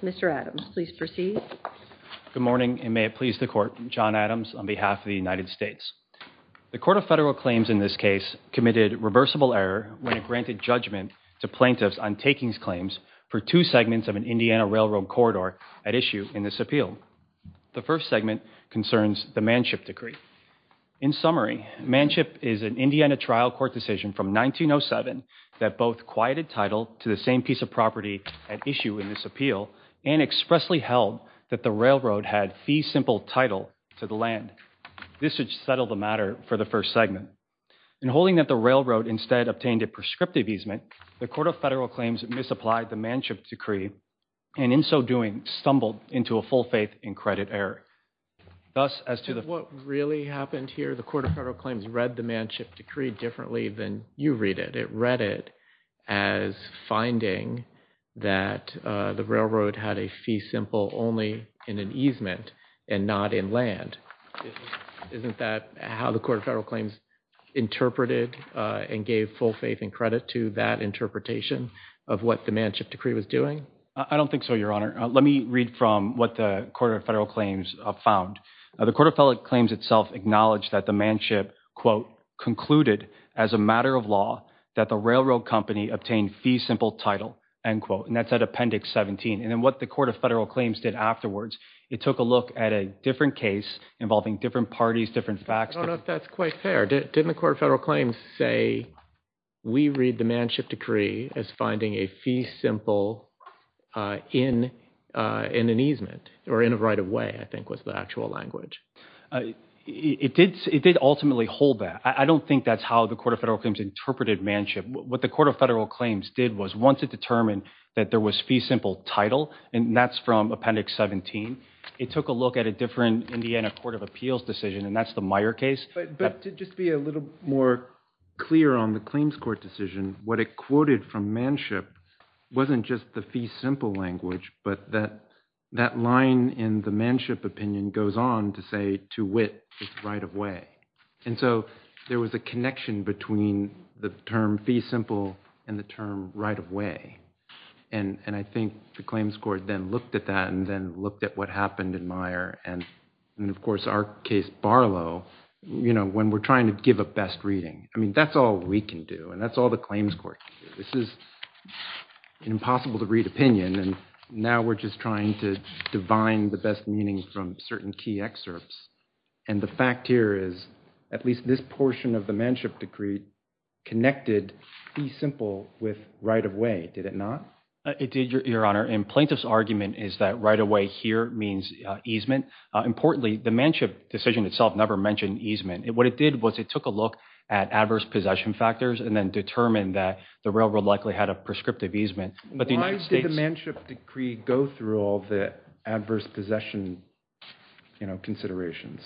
Mr. Adams, please proceed. Good morning, and may it please the Court, John Adams on behalf of the United States. The Court of Federal Claims in this case committed reversible error when it granted judgment to plaintiffs on takings claims for two segments of an Indiana railroad corridor at issue in this appeal. The first segment concerns the Manship Decree. In summary, Manship is an Indiana trial court decision from 1907 that both quieted title to the same piece of property at issue in this appeal and expressly held that the railroad had fee simple title to the land. This would settle the matter for the first segment. In holding that the railroad instead obtained a prescriptive easement, the Court of Federal Claims misapplied the Manship Decree and in so doing stumbled into a full faith in credit error. Thus, as to the- What really happened here, the Court of Federal Claims read the Manship Decree differently than you read it. It read it as finding that the railroad had a fee simple only in an easement and not in Isn't that how the Court of Federal Claims interpreted and gave full faith and credit to that interpretation of what the Manship Decree was doing? I don't think so, Your Honor. Let me read from what the Court of Federal Claims found. The Court of Federal Claims itself acknowledged that the Manship, quote, concluded as a matter of law that the railroad company obtained fee simple title, end quote, and that's at Appendix 17. And then what the Court of Federal Claims did afterwards, it took a look at a different case involving different parties, different facts- I don't know if that's quite fair. Didn't the Court of Federal Claims say, we read the Manship Decree as finding a fee simple in an easement or in a right of way, I think was the actual language. It did ultimately hold that. I don't think that's how the Court of Federal Claims interpreted Manship. What the Court of Federal Claims did was once it determined that there was fee simple title, and that's from Appendix 17, it took a look at a different Indiana Court of Appeals decision and that's the Meyer case. But to just be a little more clear on the claims court decision, what it quoted from Manship wasn't just the fee simple language, but that line in the Manship opinion goes on to say, to wit, it's right of way. And so there was a connection between the term fee simple and the term right of way. And I think the claims court then looked at that and then looked at what happened in Meyer and, of course, our case Barlow, you know, when we're trying to give a best reading. I mean, that's all we can do and that's all the claims court can do. This is impossible to read opinion and now we're just trying to divine the best meaning from certain key excerpts. And the fact here is, at least this portion of the Manship Decree connected fee simple with right of way, did it not? It did, Your Honor. And plaintiff's argument is that right of way here means easement. Importantly, the Manship decision itself never mentioned easement. What it did was it took a look at adverse possession factors and then determined that the railroad likely had a prescriptive easement. Why did the Manship Decree go through all the adverse possession, you know, considerations?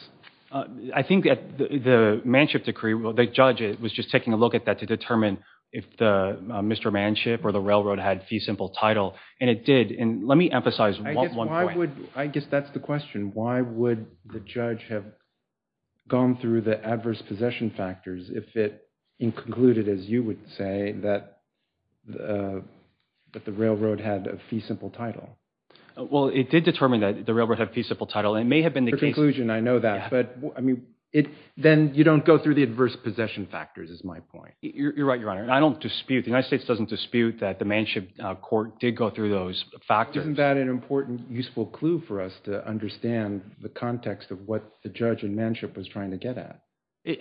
I think that the Manship Decree, the judge was just taking a look at that to determine if the Mr. Manship or the railroad had fee simple title and it did. Let me emphasize one point. I guess that's the question. Why would the judge have gone through the adverse possession factors if it concluded, as you would say, that the railroad had a fee simple title? Well, it did determine that the railroad had fee simple title. It may have been the case. I know that. But, I mean, then you don't go through the adverse possession factors is my point. You're right, Your Honor. I don't dispute, the United States doesn't dispute that the Manship Court did go through those factors. Isn't that an important, useful clue for us to understand the context of what the judge and Manship was trying to get at?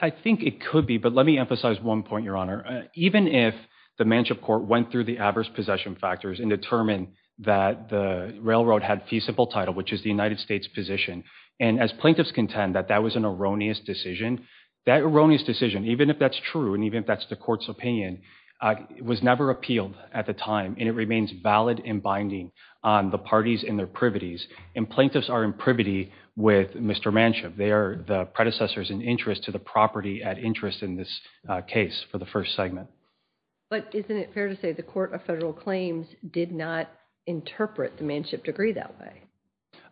I think it could be, but let me emphasize one point, Your Honor. Even if the Manship Court went through the adverse possession factors and determined that the railroad had fee simple title, which is the United States position, and as plaintiffs contend that that was an erroneous decision, that erroneous decision, even if that's true and even if that's the court's opinion, it was never appealed at the time and it remains valid and binding on the parties and their privities, and plaintiffs are in privity with Mr. Manship. They are the predecessors in interest to the property at interest in this case for the first segment. But isn't it fair to say the Court of Federal Claims did not interpret the Manship degree that way?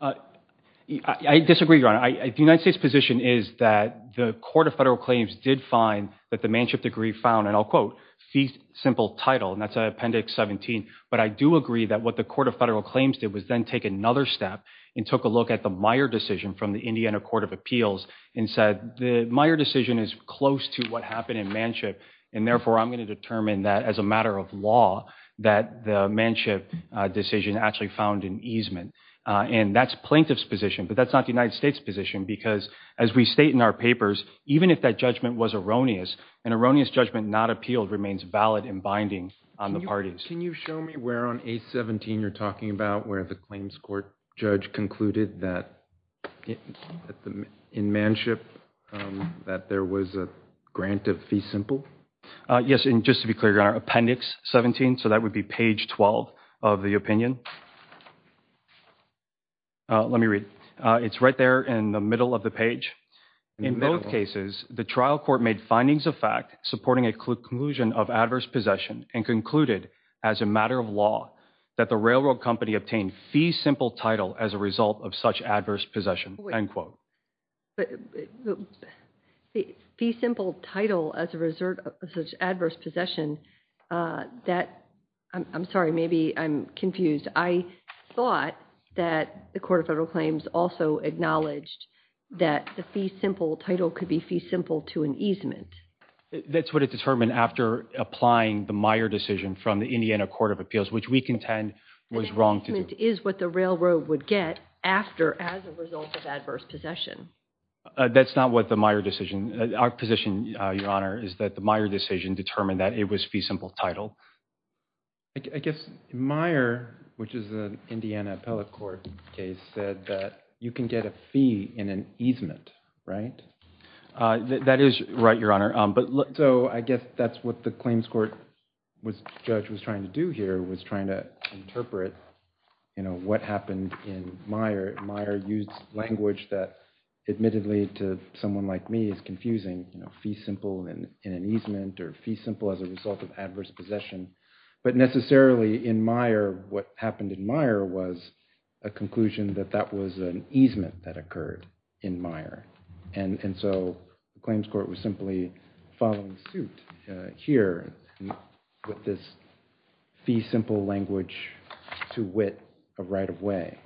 I disagree, Your Honor. The United States position is that the Court of Federal Claims did find that the Manship degree found, and I'll quote, fee simple title, and that's Appendix 17. But I do agree that what the Court of Federal Claims did was then take another step and took a look at the Meyer decision from the Indiana Court of Appeals and said the Meyer decision is close to what happened in Manship, and therefore I'm going to determine that as a matter of law that the Manship decision actually found an easement. And that's plaintiff's position, but that's not the United States position, because as we state in our papers, even if that judgment was erroneous, an erroneous judgment not appealed remains valid and binding on the parties. Can you show me where on 817 you're talking about where the claims court judge concluded that in Manship that there was a grant of fee simple? Yes, and just to be clear, Your Honor, Appendix 17, so that would be page 12 of the opinion. Let me read. It's right there in the middle of the page. In both cases, the trial court made findings of fact supporting a conclusion of adverse possession and concluded as a matter of law that the railroad company obtained fee simple title as a result of such adverse possession, end quote. Fee simple title as a result of such adverse possession, that, I'm sorry, maybe I'm confused. I thought that the Court of Federal Claims also acknowledged that the fee simple title could be fee simple to an easement. That's what it determined after applying the Meyer decision from the Indiana Court of Appeals, which we contend was wrong to do. An easement is what the railroad would get after as a result of adverse possession. That's not what the Meyer decision, our position, Your Honor, is that the Meyer decision determined that it was fee simple title. I guess Meyer, which is an Indiana appellate court case, said that you can get a fee in an easement, right? That is right, Your Honor, but so I guess that's what the claims court judge was trying to do here, was trying to interpret what happened in Meyer. Meyer used language that admittedly to someone like me is confusing, fee simple in an easement or fee simple as a result of adverse possession, but necessarily in Meyer, what happened in Meyer was a conclusion that that was an easement that occurred in Meyer. And so the claims court was simply following suit here with this fee simple language to wit of right of way.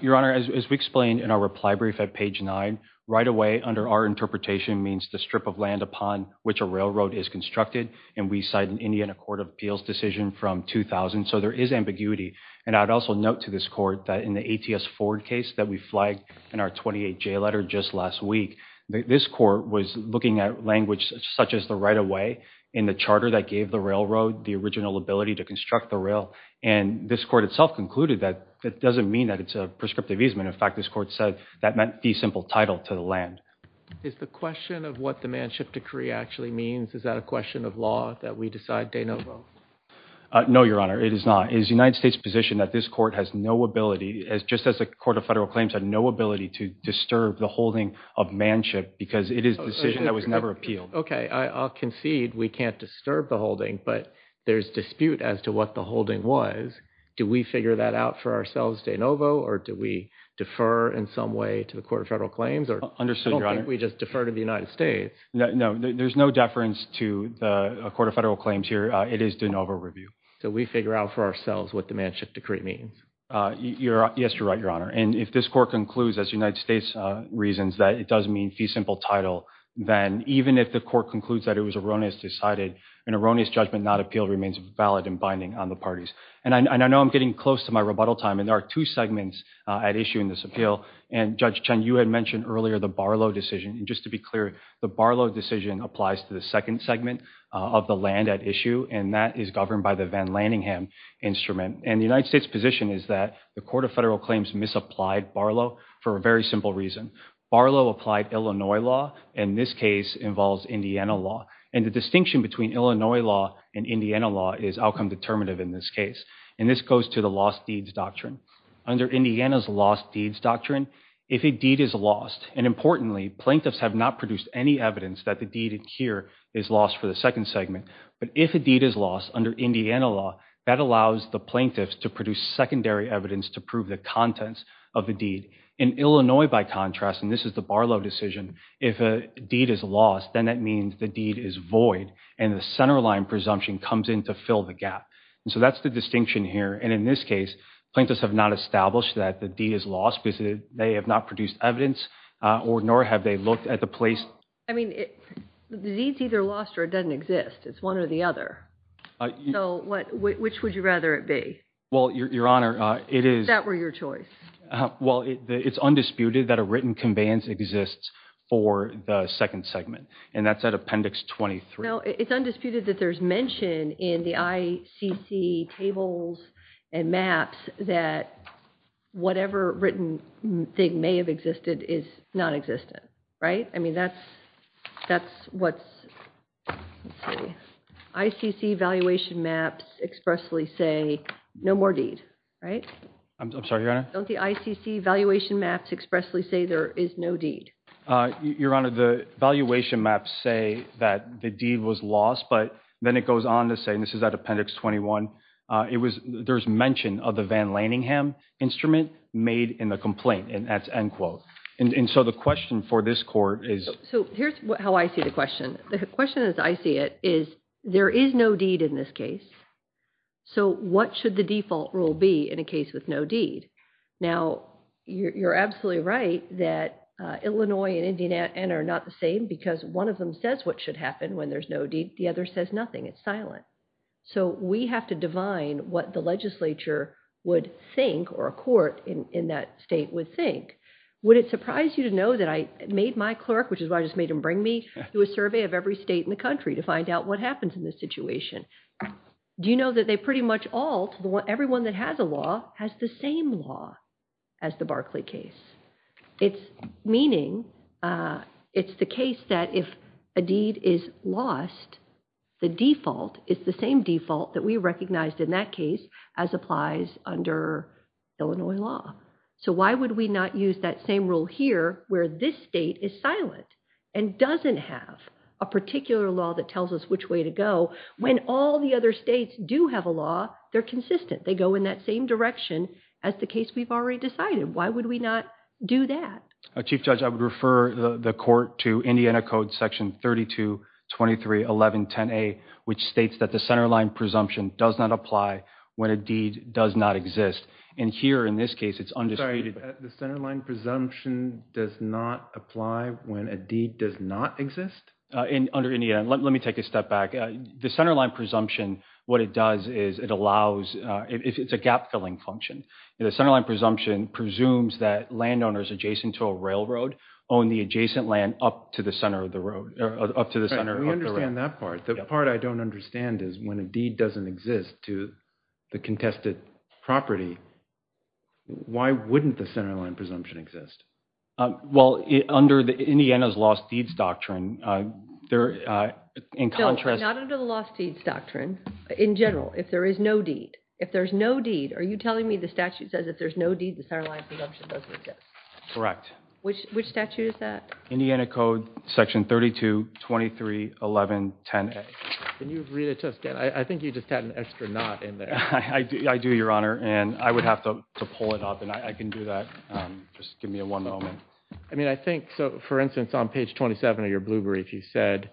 Your Honor, as we explained in our reply brief at page nine, right of way under our interpretation means the strip of land upon which a railroad is constructed, and we cite an Indiana Court of Appeals decision from 2000, so there is ambiguity. And I'd also note to this court that in the ATS Ford case that we flagged in our 28J letter just last week, this court was looking at language such as the right of way in the charter that gave the railroad the original ability to construct the rail, and this court itself concluded that it doesn't mean that it's a prescriptive easement. In fact, this court said that meant fee simple title to the land. Is the question of what the manship decree actually means, is that a question of law that we decide de novo? No, Your Honor, it is not. It is the United States' position that this court has no ability, just as the Court of Federal Claims had no ability to disturb the holding of manship because it is a decision that was never appealed. Okay, I'll concede we can't disturb the holding, but there's dispute as to what the holding was. Do we figure that out for ourselves de novo, or do we defer in some way to the Court of Federal Claims? I don't think we just defer to the United States. No, there's no deference to the Court of Federal Claims here. It is de novo review. So we figure out for ourselves what the manship decree means. Yes, you're right, Your Honor. And if this court concludes, as United States reasons, that it does mean fee simple title, then even if the court concludes that it was erroneous, decided an erroneous judgment not appealed remains valid and binding on the parties. And I know I'm getting close to my rebuttal time, and there are two segments at issue in this appeal. And Judge Chen, you had mentioned earlier the Barlow decision. Just to be clear, the Barlow decision applies to the second segment of the land at issue, and that is governed by the Van Laningham instrument. And the United States position is that the Court of Federal Claims misapplied Barlow for a very simple reason. Barlow applied Illinois law, and this case involves Indiana law. And the distinction between Illinois law and Indiana law is outcome determinative in this case. And this goes to the lost deeds doctrine. Under Indiana's lost deeds doctrine, if a deed is lost, and importantly, plaintiffs have not produced any evidence that the deed here is lost for the second segment, but if a deed is lost under Indiana law, that allows the plaintiffs to produce secondary evidence to prove the contents of the deed. In Illinois, by contrast, and this is the Barlow decision, if a deed is lost, then that means the deed is void, and the centerline presumption comes in to fill the gap. And so that's the distinction here. And in this case, plaintiffs have not established that the deed is lost because they have not produced evidence, nor have they looked at the place. I mean, the deed's either lost or it doesn't exist. It's one or the other. So which would you rather it be? Well, Your Honor, it is... If that were your choice. Well, it's undisputed that a written conveyance exists for the second segment, and that's at Appendix 23. No, it's undisputed that there's mention in the ICC tables and maps that whatever written thing may have existed is non-existent, right? I mean, that's what's, let's see, ICC valuation maps expressly say, no more deed, right? I'm sorry, Your Honor? Don't the ICC valuation maps expressly say there is no deed? Your Honor, the valuation maps say that the deed was lost, but then it goes on to say, and this is at Appendix 21, it was, there's mention of the Van Laningham instrument made in the complaint, and that's end quote. And so the question for this court is... So here's how I see the question. The question as I see it is, there is no deed in this case. So what should the default rule be in a case with no deed? Now, you're absolutely right that Illinois and Indiana are not the same because one of them says what should happen when there's no deed, the other says nothing, it's silent. So we have to divine what the legislature would think or a court in that state would think. Would it surprise you to know that I made my clerk, which is why I just made him bring me to a survey of every state in the country to find out what happens in this situation. Do you know that they pretty much all, everyone that has a law has the same law as the Barkley case? It's meaning, it's the case that if a deed is lost, the default is the same default that we recognized in that case as applies under Illinois law. So why would we not use that same rule here where this state is silent and doesn't have a particular law that tells us which way to go, when all the other states do have a law, they're consistent. They go in that same direction as the case we've already decided. Why would we not do that? Chief Judge, I would refer the court to Indiana Code Section 32231110A, which states that the centerline presumption does not apply when a deed does not exist. And here in this case, it's undisputed. The centerline presumption does not apply when a deed does not exist? Under Indiana, let me take a step back. The centerline presumption, what it does is it allows, it's a gap-filling function. The centerline presumption presumes that landowners adjacent to a railroad own the adjacent land up to the center of the road, up to the center of the road. We understand that part. The part I don't understand is when a deed doesn't exist to the contested property, why wouldn't the centerline presumption exist? Well, under Indiana's lost deeds doctrine, there, in contrast- Not under the lost deeds doctrine. In general, if there is no deed. If there's no deed, are you telling me the statute says if there's no deed, the centerline presumption doesn't exist? Correct. Which statute is that? Indiana Code Section 32231110A. Can you read it to us, Dan? I think you just had an extra not in there. I do, Your Honor. I would have to pull it up. I can do that. Just give me one moment. For instance, on page 27 of your blue brief, you said,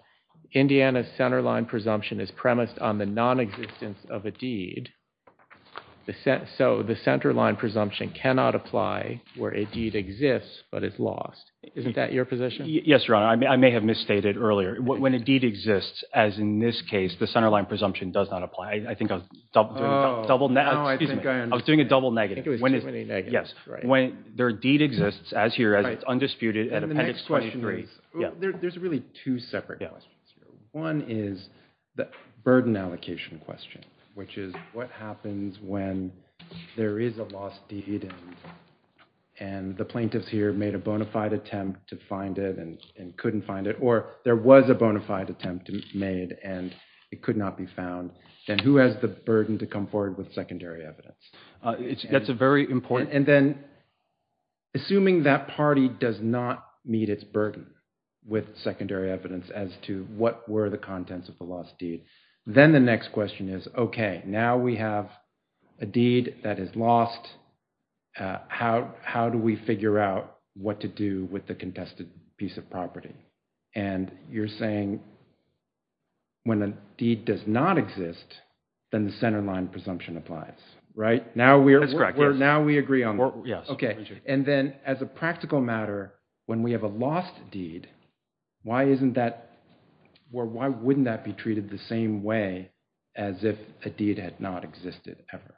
Indiana's centerline presumption is premised on the nonexistence of a deed, so the centerline presumption cannot apply where a deed exists, but it's lost. Isn't that your position? Yes, Your Honor. I may have misstated earlier. When a deed exists, as in this case, the centerline presumption does not apply. I think I was- No, I think I understand. I was doing a double negative. I think it was too many negatives. Yes. When their deed exists, as here, as it's undisputed- And the next question is, there's really two separate questions here. One is the burden allocation question, which is what happens when there is a lost deed and the plaintiffs here made a bona fide attempt to find it and couldn't find it, or there was a bona fide attempt made and it could not be found, then who has the burden to come forward with secondary evidence? That's a very important- And then, assuming that party does not meet its burden with secondary evidence as to what were the contents of the lost deed, then the next question is, okay, now we have a deed that is lost, how do we figure out what to do with the contested piece of property? And you're saying when a deed does not exist, then the centerline presumption applies, right? That's correct, yes. Now we agree on that. Yes. Okay. And then, as a practical matter, when we have a lost deed, why wouldn't that be treated the same way as if a deed had not existed ever?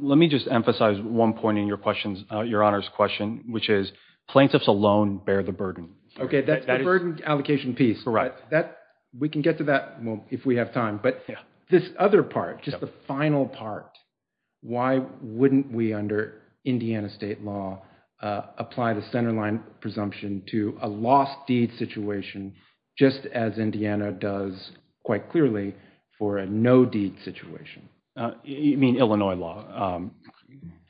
Let me just emphasize one point in your Honor's question, which is plaintiffs alone bear the burden. Okay. That's the burden allocation piece. That, we can get to that if we have time, but this other part, just the final part, why wouldn't we, under Indiana state law, apply the centerline presumption to a lost deed situation just as Indiana does, quite clearly, for a no-deed situation? You mean Illinois law? Are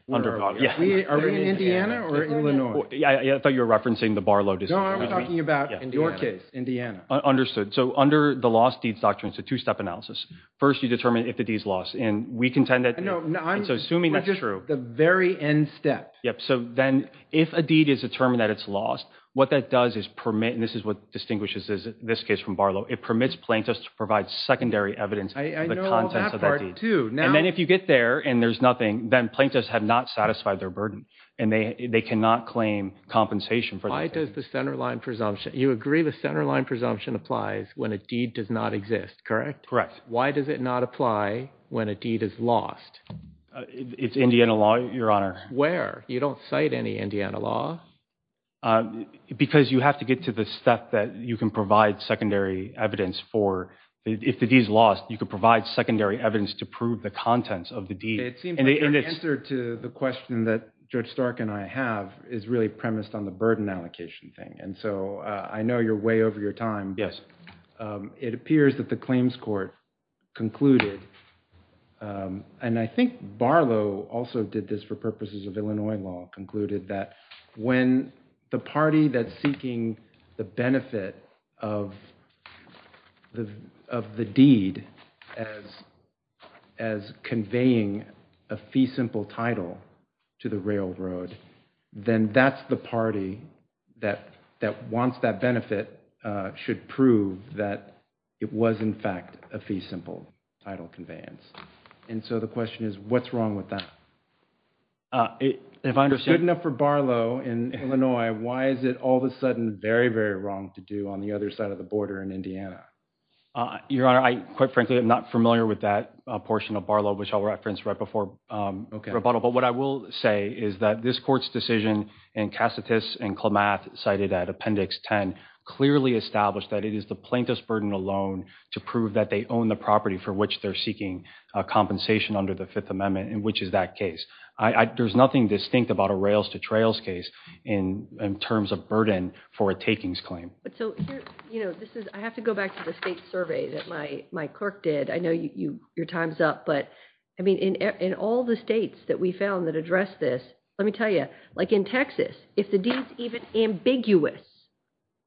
we in Indiana or Illinois? I thought you were referencing the Barlow decision. No, I'm talking about your case, Indiana. Understood. So, under the lost deeds doctrine, it's a two-step analysis. First, you determine if the deed's lost, and we contend that— No, I'm— So, assuming that's true— We're just at the very end step. Yep. So, then, if a deed is determined that it's lost, what that does is permit—and this is what distinguishes this case from Barlow—it permits plaintiffs to provide secondary evidence for the contents of that deed. I know all that part, too. Now— And then, if you get there and there's nothing, then plaintiffs have not satisfied their burden, and they cannot claim compensation for that deed. Why does the centerline presumption—you agree the centerline presumption applies when a deed does not exist, correct? Correct. Why does it not apply when a deed is lost? It's Indiana law, Your Honor. Where? You don't cite any Indiana law. Because you have to get to the step that you can provide secondary evidence for—if the deed's lost, you can provide secondary evidence to prove the contents of the deed. It seems like your answer to the question that Judge Stark and I have is really premised on the burden allocation thing, and so I know you're way over your time. Yes. It appears that the claims court concluded—and I think Barlow also did this for purposes of Illinois law—concluded that when the party that's seeking the benefit of the deed as conveying a fee simple title to the railroad, then that's the party that wants that benefit should prove that it was in fact a fee simple title conveyance. And so the question is, what's wrong with that? If it's good enough for Barlow in Illinois, why is it all of a sudden very, very wrong to do on the other side of the border in Indiana? Your Honor, I, quite frankly, am not familiar with that portion of Barlow, which I'll reference right before rebuttal. But what I will say is that this court's decision in Cassatus and Klamath, cited at Appendix 10, clearly established that it is the plaintiff's burden alone to prove that they own the property for which they're seeking compensation under the Fifth Amendment, which is that case. There's nothing distinct about a rails-to-trails case in terms of burden for a takings claim. I have to go back to the state survey that my clerk did. I know your time's up. But in all the states that we found that addressed this, let me tell you, like in Texas, if the deed's even ambiguous,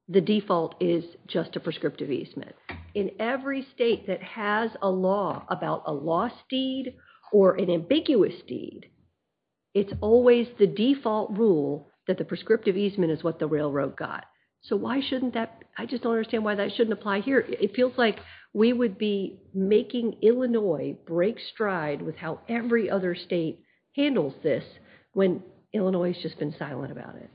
the default is just a prescriptive easement. In every state that has a law about a lost deed or an ambiguous deed, it's always the default rule that the prescriptive easement is what the railroad got. So why shouldn't that... I just don't understand why that shouldn't apply here. It feels like we would be making Illinois break stride with how every other state handles this when Illinois has just been silent about it.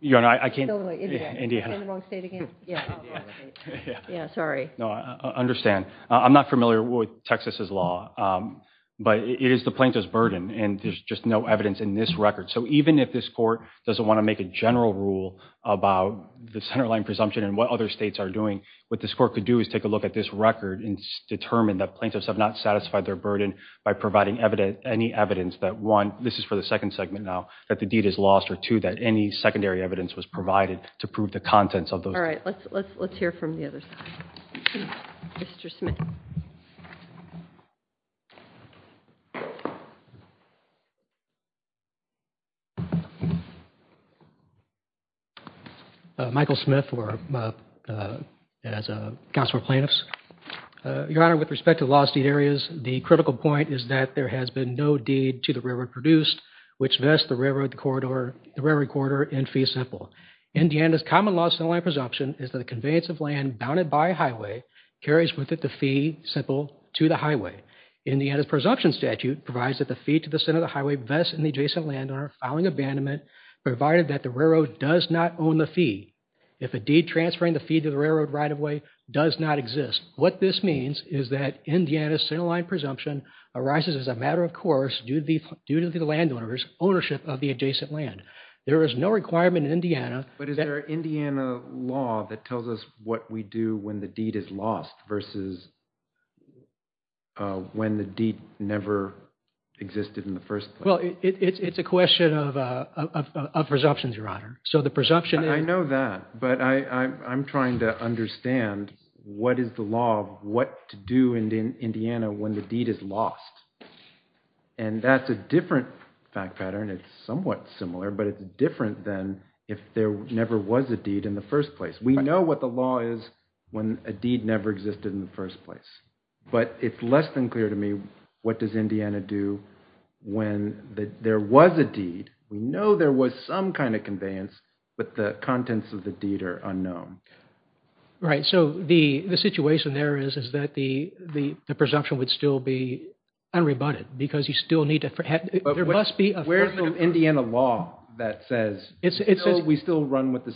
Your Honor, I can't... You're in the wrong state again. Yeah, sorry. No, I understand. I'm not familiar with Texas's law, but it is the plaintiff's burden, and there's just no evidence in this record. So even if this court doesn't want to make a general rule about the centerline presumption and what other states are doing, what this court could do is take a look at this record and determine that plaintiffs have not satisfied their burden by providing any evidence that, one, this is for the second segment now, that the deed is lost, or two, that any secondary evidence was provided to prove the contents of those... All right. Let's hear from the other side. Mr. Smith. Michael Smith for... as a counsel for plaintiffs. Your Honor, with respect to lost deed areas, the critical point is that there has been no deed to the railroad produced which vests the railroad corridor in fee simple. Indiana's common law centerline presumption is that the conveyance of land bounded by a highway carries with it the fee simple to the highway. Indiana's presumption statute provides that the fee to the center of the highway vests in the adjacent landowner filing abandonment provided that the railroad does not own the fee. If a deed transferring the fee to the railroad right-of-way does not exist, what this means is that Indiana's centerline presumption arises as a matter of course due to the landowner's ownership of the adjacent land. There is no requirement in Indiana... But is there an Indiana law that tells us what we do when the deed is lost versus when the deed never existed in the first place? Well, it's a question of presumptions, Your Honor. So the presumption is... I know that, but I'm trying to understand what is the law of what to do in Indiana when the deed is lost. And that's a different fact pattern. It's somewhat similar, but it's different than if there never was a deed in the first place. We know what the law is when a deed never existed in the first place, but it's less than clear to me what does Indiana do when there was a deed. We know there was some kind of conveyance, but the contents of the deed are unknown. Right. So the situation there is that the presumption would still be unrebutted because you still need to... But where's the Indiana law that says we still run with the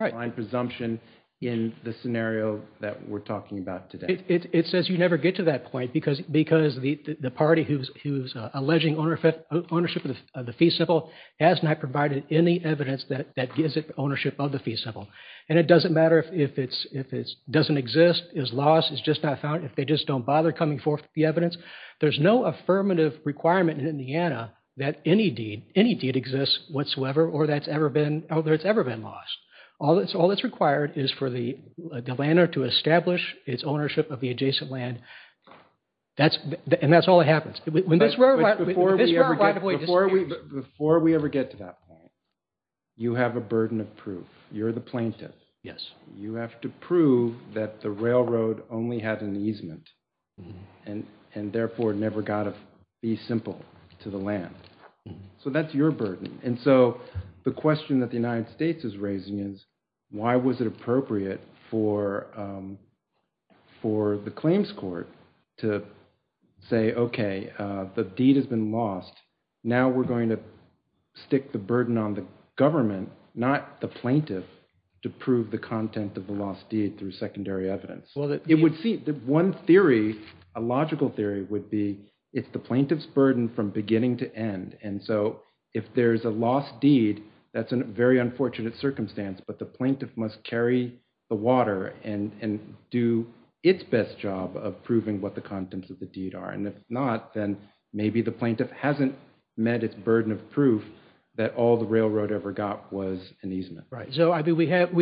centerline presumption in the scenario that we're talking about today? It says you never get to that point because the party who's alleging ownership of the fee symbol has not provided any evidence that gives it ownership of the fee symbol. And it doesn't matter if it doesn't exist, is lost, is just not found, if they just don't bother coming forth with the evidence, there's no affirmative requirement in Indiana that any deed exists whatsoever or that it's ever been lost. All that's required is for the landowner to establish its ownership of the adjacent land, and that's all that happens. Before we ever get to that point, you have a burden of proof. You're the plaintiff. Yes. You have to prove that the railroad only had an easement and therefore never got a fee symbol to the land. So that's your burden. And so the question that the United States is raising is why was it appropriate for the claims court to say, okay, the deed has been lost. Now we're going to stick the burden on the government, not the plaintiff, to prove the content of the lost deed through secondary evidence. One theory, a logical theory, would be it's the plaintiff's burden from beginning to end. And so if there's a lost deed, that's a very unfortunate circumstance. But the plaintiff must carry the water and do its best job of proving what the contents of the deed are. And if not, then maybe the plaintiff hasn't met its burden of proof that all the railroad ever got was an easement. Right. So we have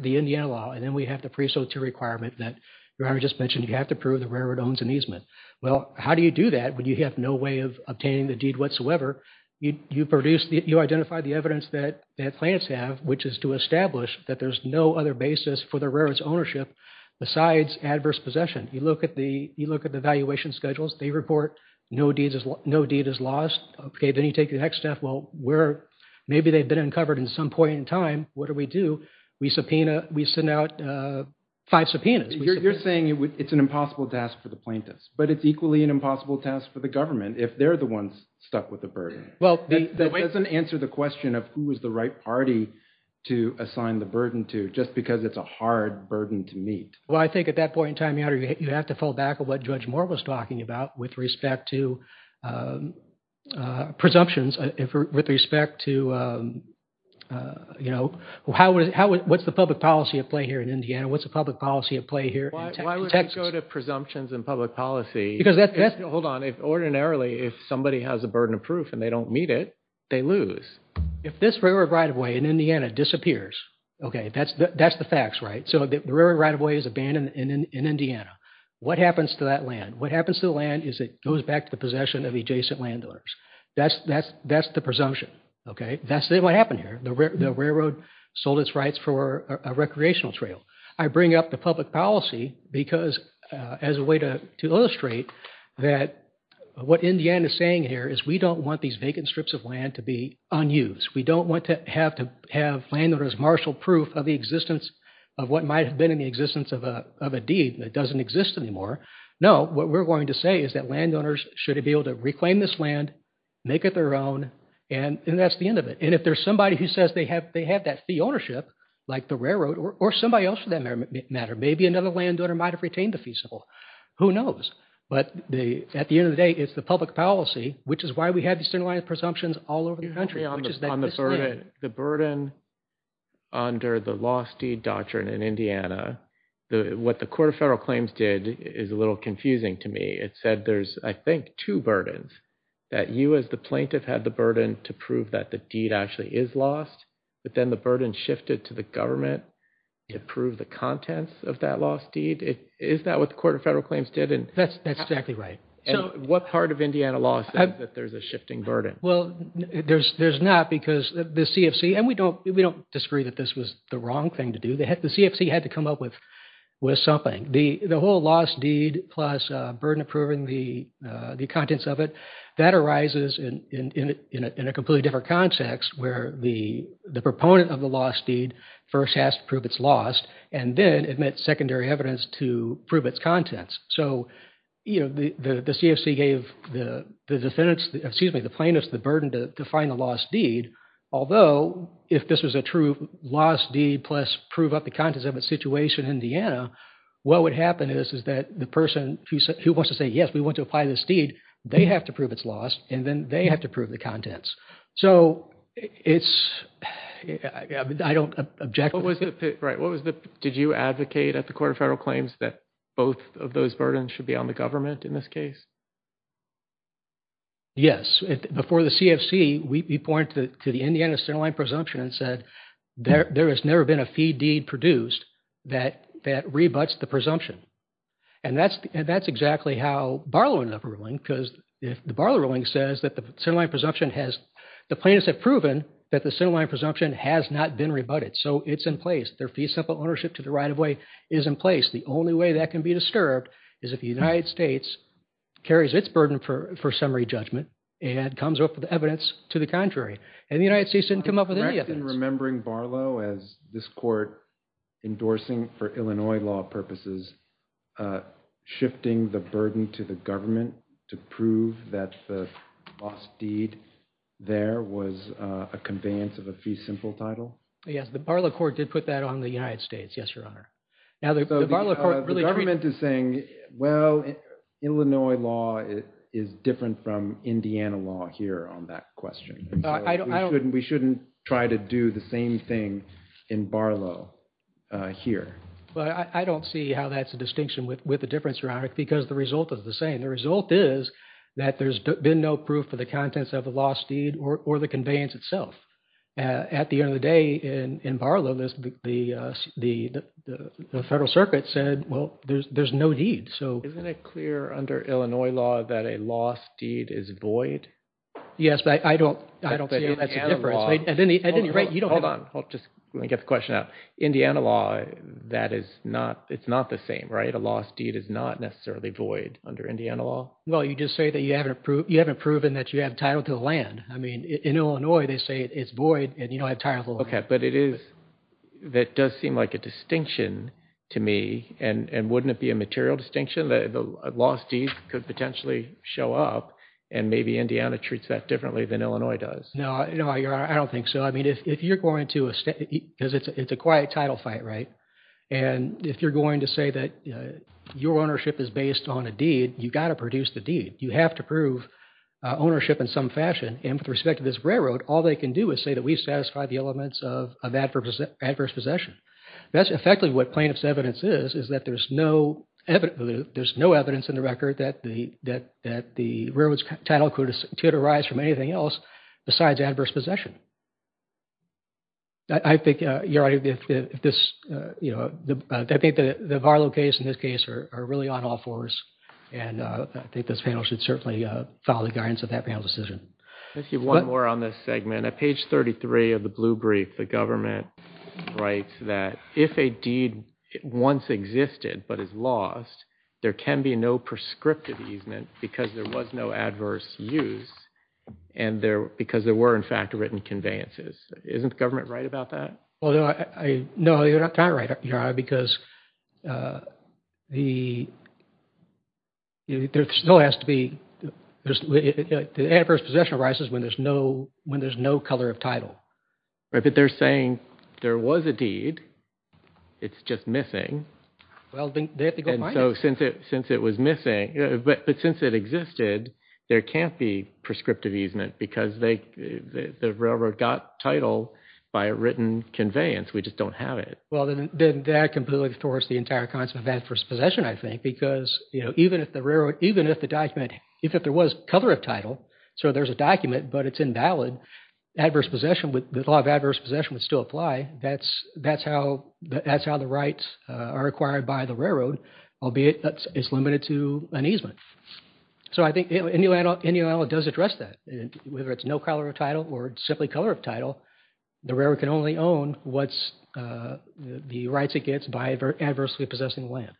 the Indiana law, and then we have the pre-SOTA requirement that you just mentioned you have to prove the railroad owns an easement. Well, how do you do that when you have no way of obtaining the deed whatsoever? You identify the evidence that plaintiffs have, which is to establish that there's no other basis for the railroad's ownership besides adverse possession. You look at the evaluation schedules. They report no deed is lost. Okay, then you take the next step. Well, maybe they've been uncovered at some point in time. What do we do? We send out five subpoenas. You're saying it's an impossible task for the plaintiffs, but it's equally an impossible task for the government if they're the ones stuck with the burden. That doesn't answer the question of who is the right party to assign the burden to just because it's a hard burden to meet. Well, I think at that point in time, you have to fall back on what Judge Moore was talking about with respect to presumptions. With respect to, you know, what's the public policy at play here in Indiana? What's the public policy at play here in Texas? Why would we go to presumptions in public policy? Hold on. Ordinarily, if somebody has a burden of proof and they don't meet it, they lose. If this railroad right-of-way in Indiana disappears, okay, that's the facts, right? So the railroad right-of-way is abandoned in Indiana. What happens to that land? What happens to the land is it goes back to the possession of adjacent landowners. That's the presumption, okay? That's what happened here. The railroad sold its rights for a recreational trail. I bring up the public policy because as a way to illustrate that what Indiana is saying here is we don't want these vacant strips of land to be unused. We don't want to have landowners marshal proof of the existence of what might have been in the existence of a deed that doesn't exist anymore. No, what we're going to say is that landowners should be able to reclaim this land, make it their own, and that's the end of it. And if there's somebody who says they have that fee ownership, like the railroad, or somebody else for that matter, maybe another landowner might have retained the fee. Who knows? But at the end of the day, it's the public policy, which is why we have these streamlined presumptions all over the country. On the burden, the burden under the lost deed doctrine in Indiana, what the Court of Federal Claims did is a little confusing to me. It said there's, I think, two burdens, that you as the plaintiff had the burden to prove that the deed actually is lost, but then the burden shifted to the government to prove the contents of that lost deed. Is that what the Court of Federal Claims did? That's exactly right. And what part of Indiana law says that there's a shifting burden? Well, there's not because the CFC, and we don't disagree that this was the wrong thing to do. The CFC had to come up with something. The whole lost deed plus burden approving the contents of it, that arises in a completely different context where the proponent of the lost deed first has to prove it's lost and then admit secondary evidence to prove its contents. So, you know, the CFC gave the plaintiff the burden to find the lost deed, although if this was a true lost deed plus prove up the contents of its situation in Indiana, what would happen is that the person who wants to say, yes, we want to apply this deed, they have to prove it's lost, and then they have to prove the contents. So it's, I don't object. What was the, right, what was the, did you advocate at the Court of Federal Claims that both of those burdens should be on the government in this case? Yes. Before the CFC, we point to the Indiana centerline presumption and said there has never been a fee deed produced that rebuts the presumption. And that's exactly how Barlow ended up ruling because the Barlow ruling says that the centerline presumption has, the plaintiffs have proven that the centerline presumption has not been rebutted, so it's in place. Their fee simple ownership to the right of way is in place. The only way that can be disturbed is if the United States carries its burden for summary judgment and comes up with evidence to the contrary. And the United States didn't come up with any of it. I'm interested in remembering Barlow as this court endorsing for Illinois law purposes, shifting the burden to the government to prove that the lost deed there was a conveyance of a fee simple title. Yes, the Barlow court did put that on the United States. Yes, Your Honor. The government is saying, well, Illinois law is different from Indiana law here on that question. We shouldn't try to do the same thing in Barlow here. Well, I don't see how that's a distinction with the difference, Your Honor, because the result is the same. The result is that there's been no proof for the contents of the lost deed or the conveyance itself. At the end of the day, in Barlow, the Federal Circuit said, well, there's no deed. Isn't it clear under Illinois law that a lost deed is void? Yes, but I don't see how that's a difference. Hold on. Let me get the question out. Indiana law, it's not the same, right? A lost deed is not necessarily void under Indiana law? Well, you just say that you haven't proven that you have title to the land. I mean, in Illinois, they say it's void and you don't have title to the land. Okay, but it does seem like a distinction to me. And wouldn't it be a material distinction? The lost deed could potentially show up and maybe Indiana treats that differently than Illinois does. No, Your Honor, I don't think so. I mean, if you're going to – because it's a quiet title fight, right? And if you're going to say that your ownership is based on a deed, you've got to produce the deed. You have to prove ownership in some fashion. And with respect to this railroad, all they can do is say that we've satisfied the elements of adverse possession. That's effectively what plaintiff's evidence is, is that there's no evidence in the record that the railroad's title could arise from anything else besides adverse possession. I think, Your Honor, if this – I think the Varlow case and this case are really on all fours, and I think this panel should certainly follow the guidance of that panel's decision. I'll give you one more on this segment. At page 33 of the blue brief, the government writes that if a deed once existed but is lost, there can be no prescriptive easement because there was no adverse use and because there were, in fact, written conveyances. Isn't the government right about that? No, Your Honor, because the – there still has to be – the adverse possession arises when there's no color of title. But they're saying there was a deed. It's just missing. Well, they have to go find it. And so since it was missing – but since it existed, there can't be prescriptive easement because they – the railroad got title by a written conveyance. We just don't have it. Well, then that completely thwarts the entire concept of adverse possession, I think, because even if the railroad – even if the document – even if there was color of title, so there's a document but it's invalid, adverse possession – the law of adverse possession would still apply. That's how the rights are acquired by the railroad, albeit that it's limited to an easement. So I think Indian Land Law does address that. Whether it's no color of title or simply color of title, the railroad can only own what's – the rights it gets by adversely possessing land.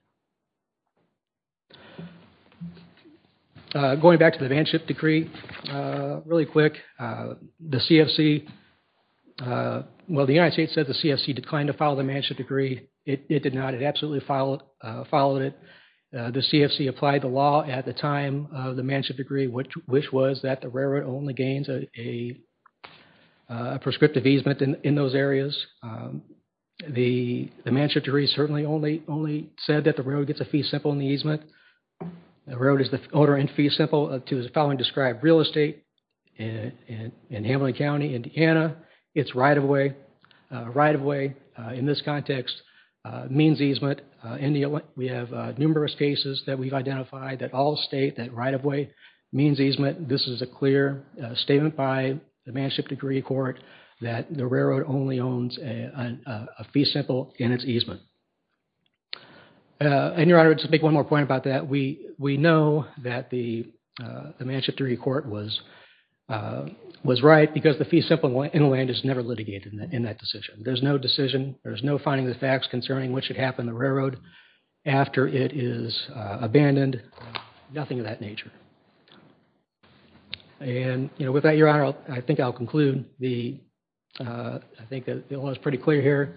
Going back to the Manship Decree, really quick, the CFC – well, the United States said the CFC declined to file the Manship Decree. It did not. It absolutely followed it. The CFC applied the law at the time of the Manship Decree, which was that the railroad only gains a prescriptive easement in those areas. The Manship Decree certainly only said that the railroad gets a fee simple in the easement. The railroad is the owner in fee simple to the following described real estate in Hamline County, Indiana. It's right-of-way. Right-of-way in this context means easement. We have numerous cases that we've identified that all state that right-of-way means easement. This is a clear statement by the Manship Decree Court that the railroad only owns a fee simple in its easement. And, Your Honor, just to make one more point about that, we know that the Manship Decree Court was right because the fee simple in land is never litigated in that decision. There's no decision. There's no finding of the facts concerning what should happen to the railroad after it is abandoned. Nothing of that nature. And, you know, with that, Your Honor, I think I'll conclude. I think it was pretty clear here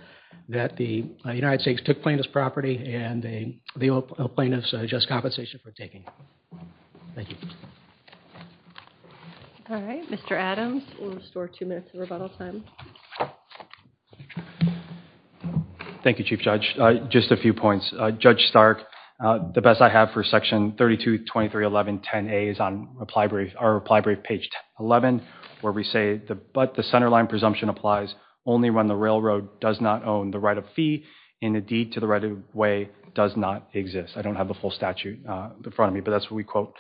that the United States took plaintiff's property and the plaintiff's just compensation for taking. Thank you. All right. Mr. Adams, we'll restore two minutes of rebuttal time. Thank you, Chief Judge. Just a few points. Judge Stark, the best I have for Section 32231110A is on our reply brief, page 11, where we say, but the centerline presumption applies only when the railroad does not own the right-of-fee in a deed to the right-of-way does not exist. I don't have the full statute in front of me, but that's what we quote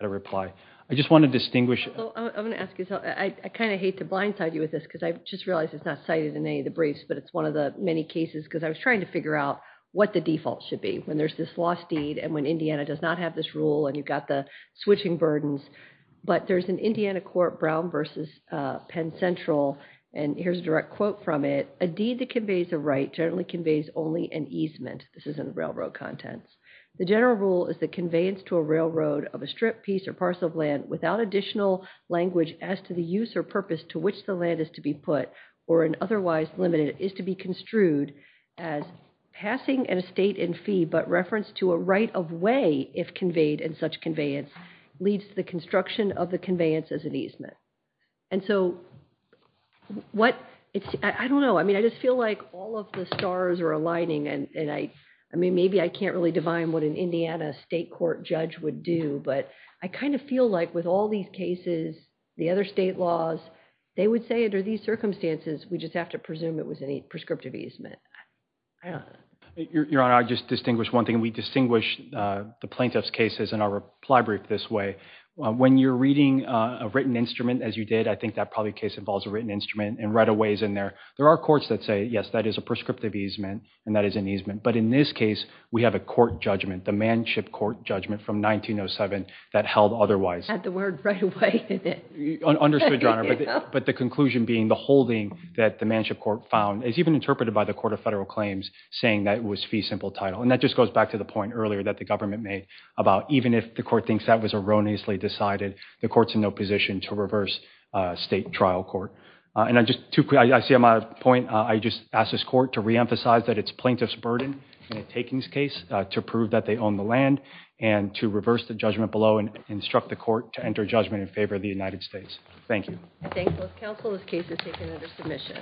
in the reply. I just want to distinguish. I'm going to ask you something. I kind of hate to blindside you with this because I just realized it's not cited in any of the briefs, but it's one of the many cases because I was trying to figure out what the default should be. When there's this lost deed and when Indiana does not have this rule and you've got the switching burdens, but there's an Indiana court, Brown versus Penn Central, and here's a direct quote from it. A deed that conveys a right generally conveys only an easement. This is in the railroad contents. The general rule is the conveyance to a railroad of a strip, piece, or parcel of land without additional language as to the use or purpose to which the land is to be put or an otherwise limited is to be construed as passing an estate in fee but referenced to a right of way if conveyed in such conveyance leads to the construction of the conveyance as an easement. I don't know. I just feel like all of the stars are aligning. Maybe I can't really divine what an Indiana state court judge would do, but I kind of feel like with all these cases, the other state laws, they would say under these circumstances, we just have to presume it was a prescriptive easement. Your Honor, I'll just distinguish one thing. We distinguish the plaintiff's cases in our reply brief this way. When you're reading a written instrument, as you did, I think that probably case involves a written instrument and right of ways in there. There are courts that say, yes, that is a prescriptive easement and that is an easement. But in this case, we have a court judgment, the Manship Court judgment from 1907 that held otherwise. Had the word right of way in it. Understood, Your Honor. But the conclusion being the holding that the Manship Court found is even interpreted by the Court of Federal Claims saying that it was fee simple title. And that just goes back to the point earlier that the government made about even if the court thinks that was erroneously decided, the court's in no position to reverse state trial court. And I see my point. I just ask this court to reemphasize that it's plaintiff's burden in a takings case to prove that they own the land and to reverse the judgment below and instruct the court to enter judgment in favor of the United States. Thank you. I thank both counsel. This case is taken under submission.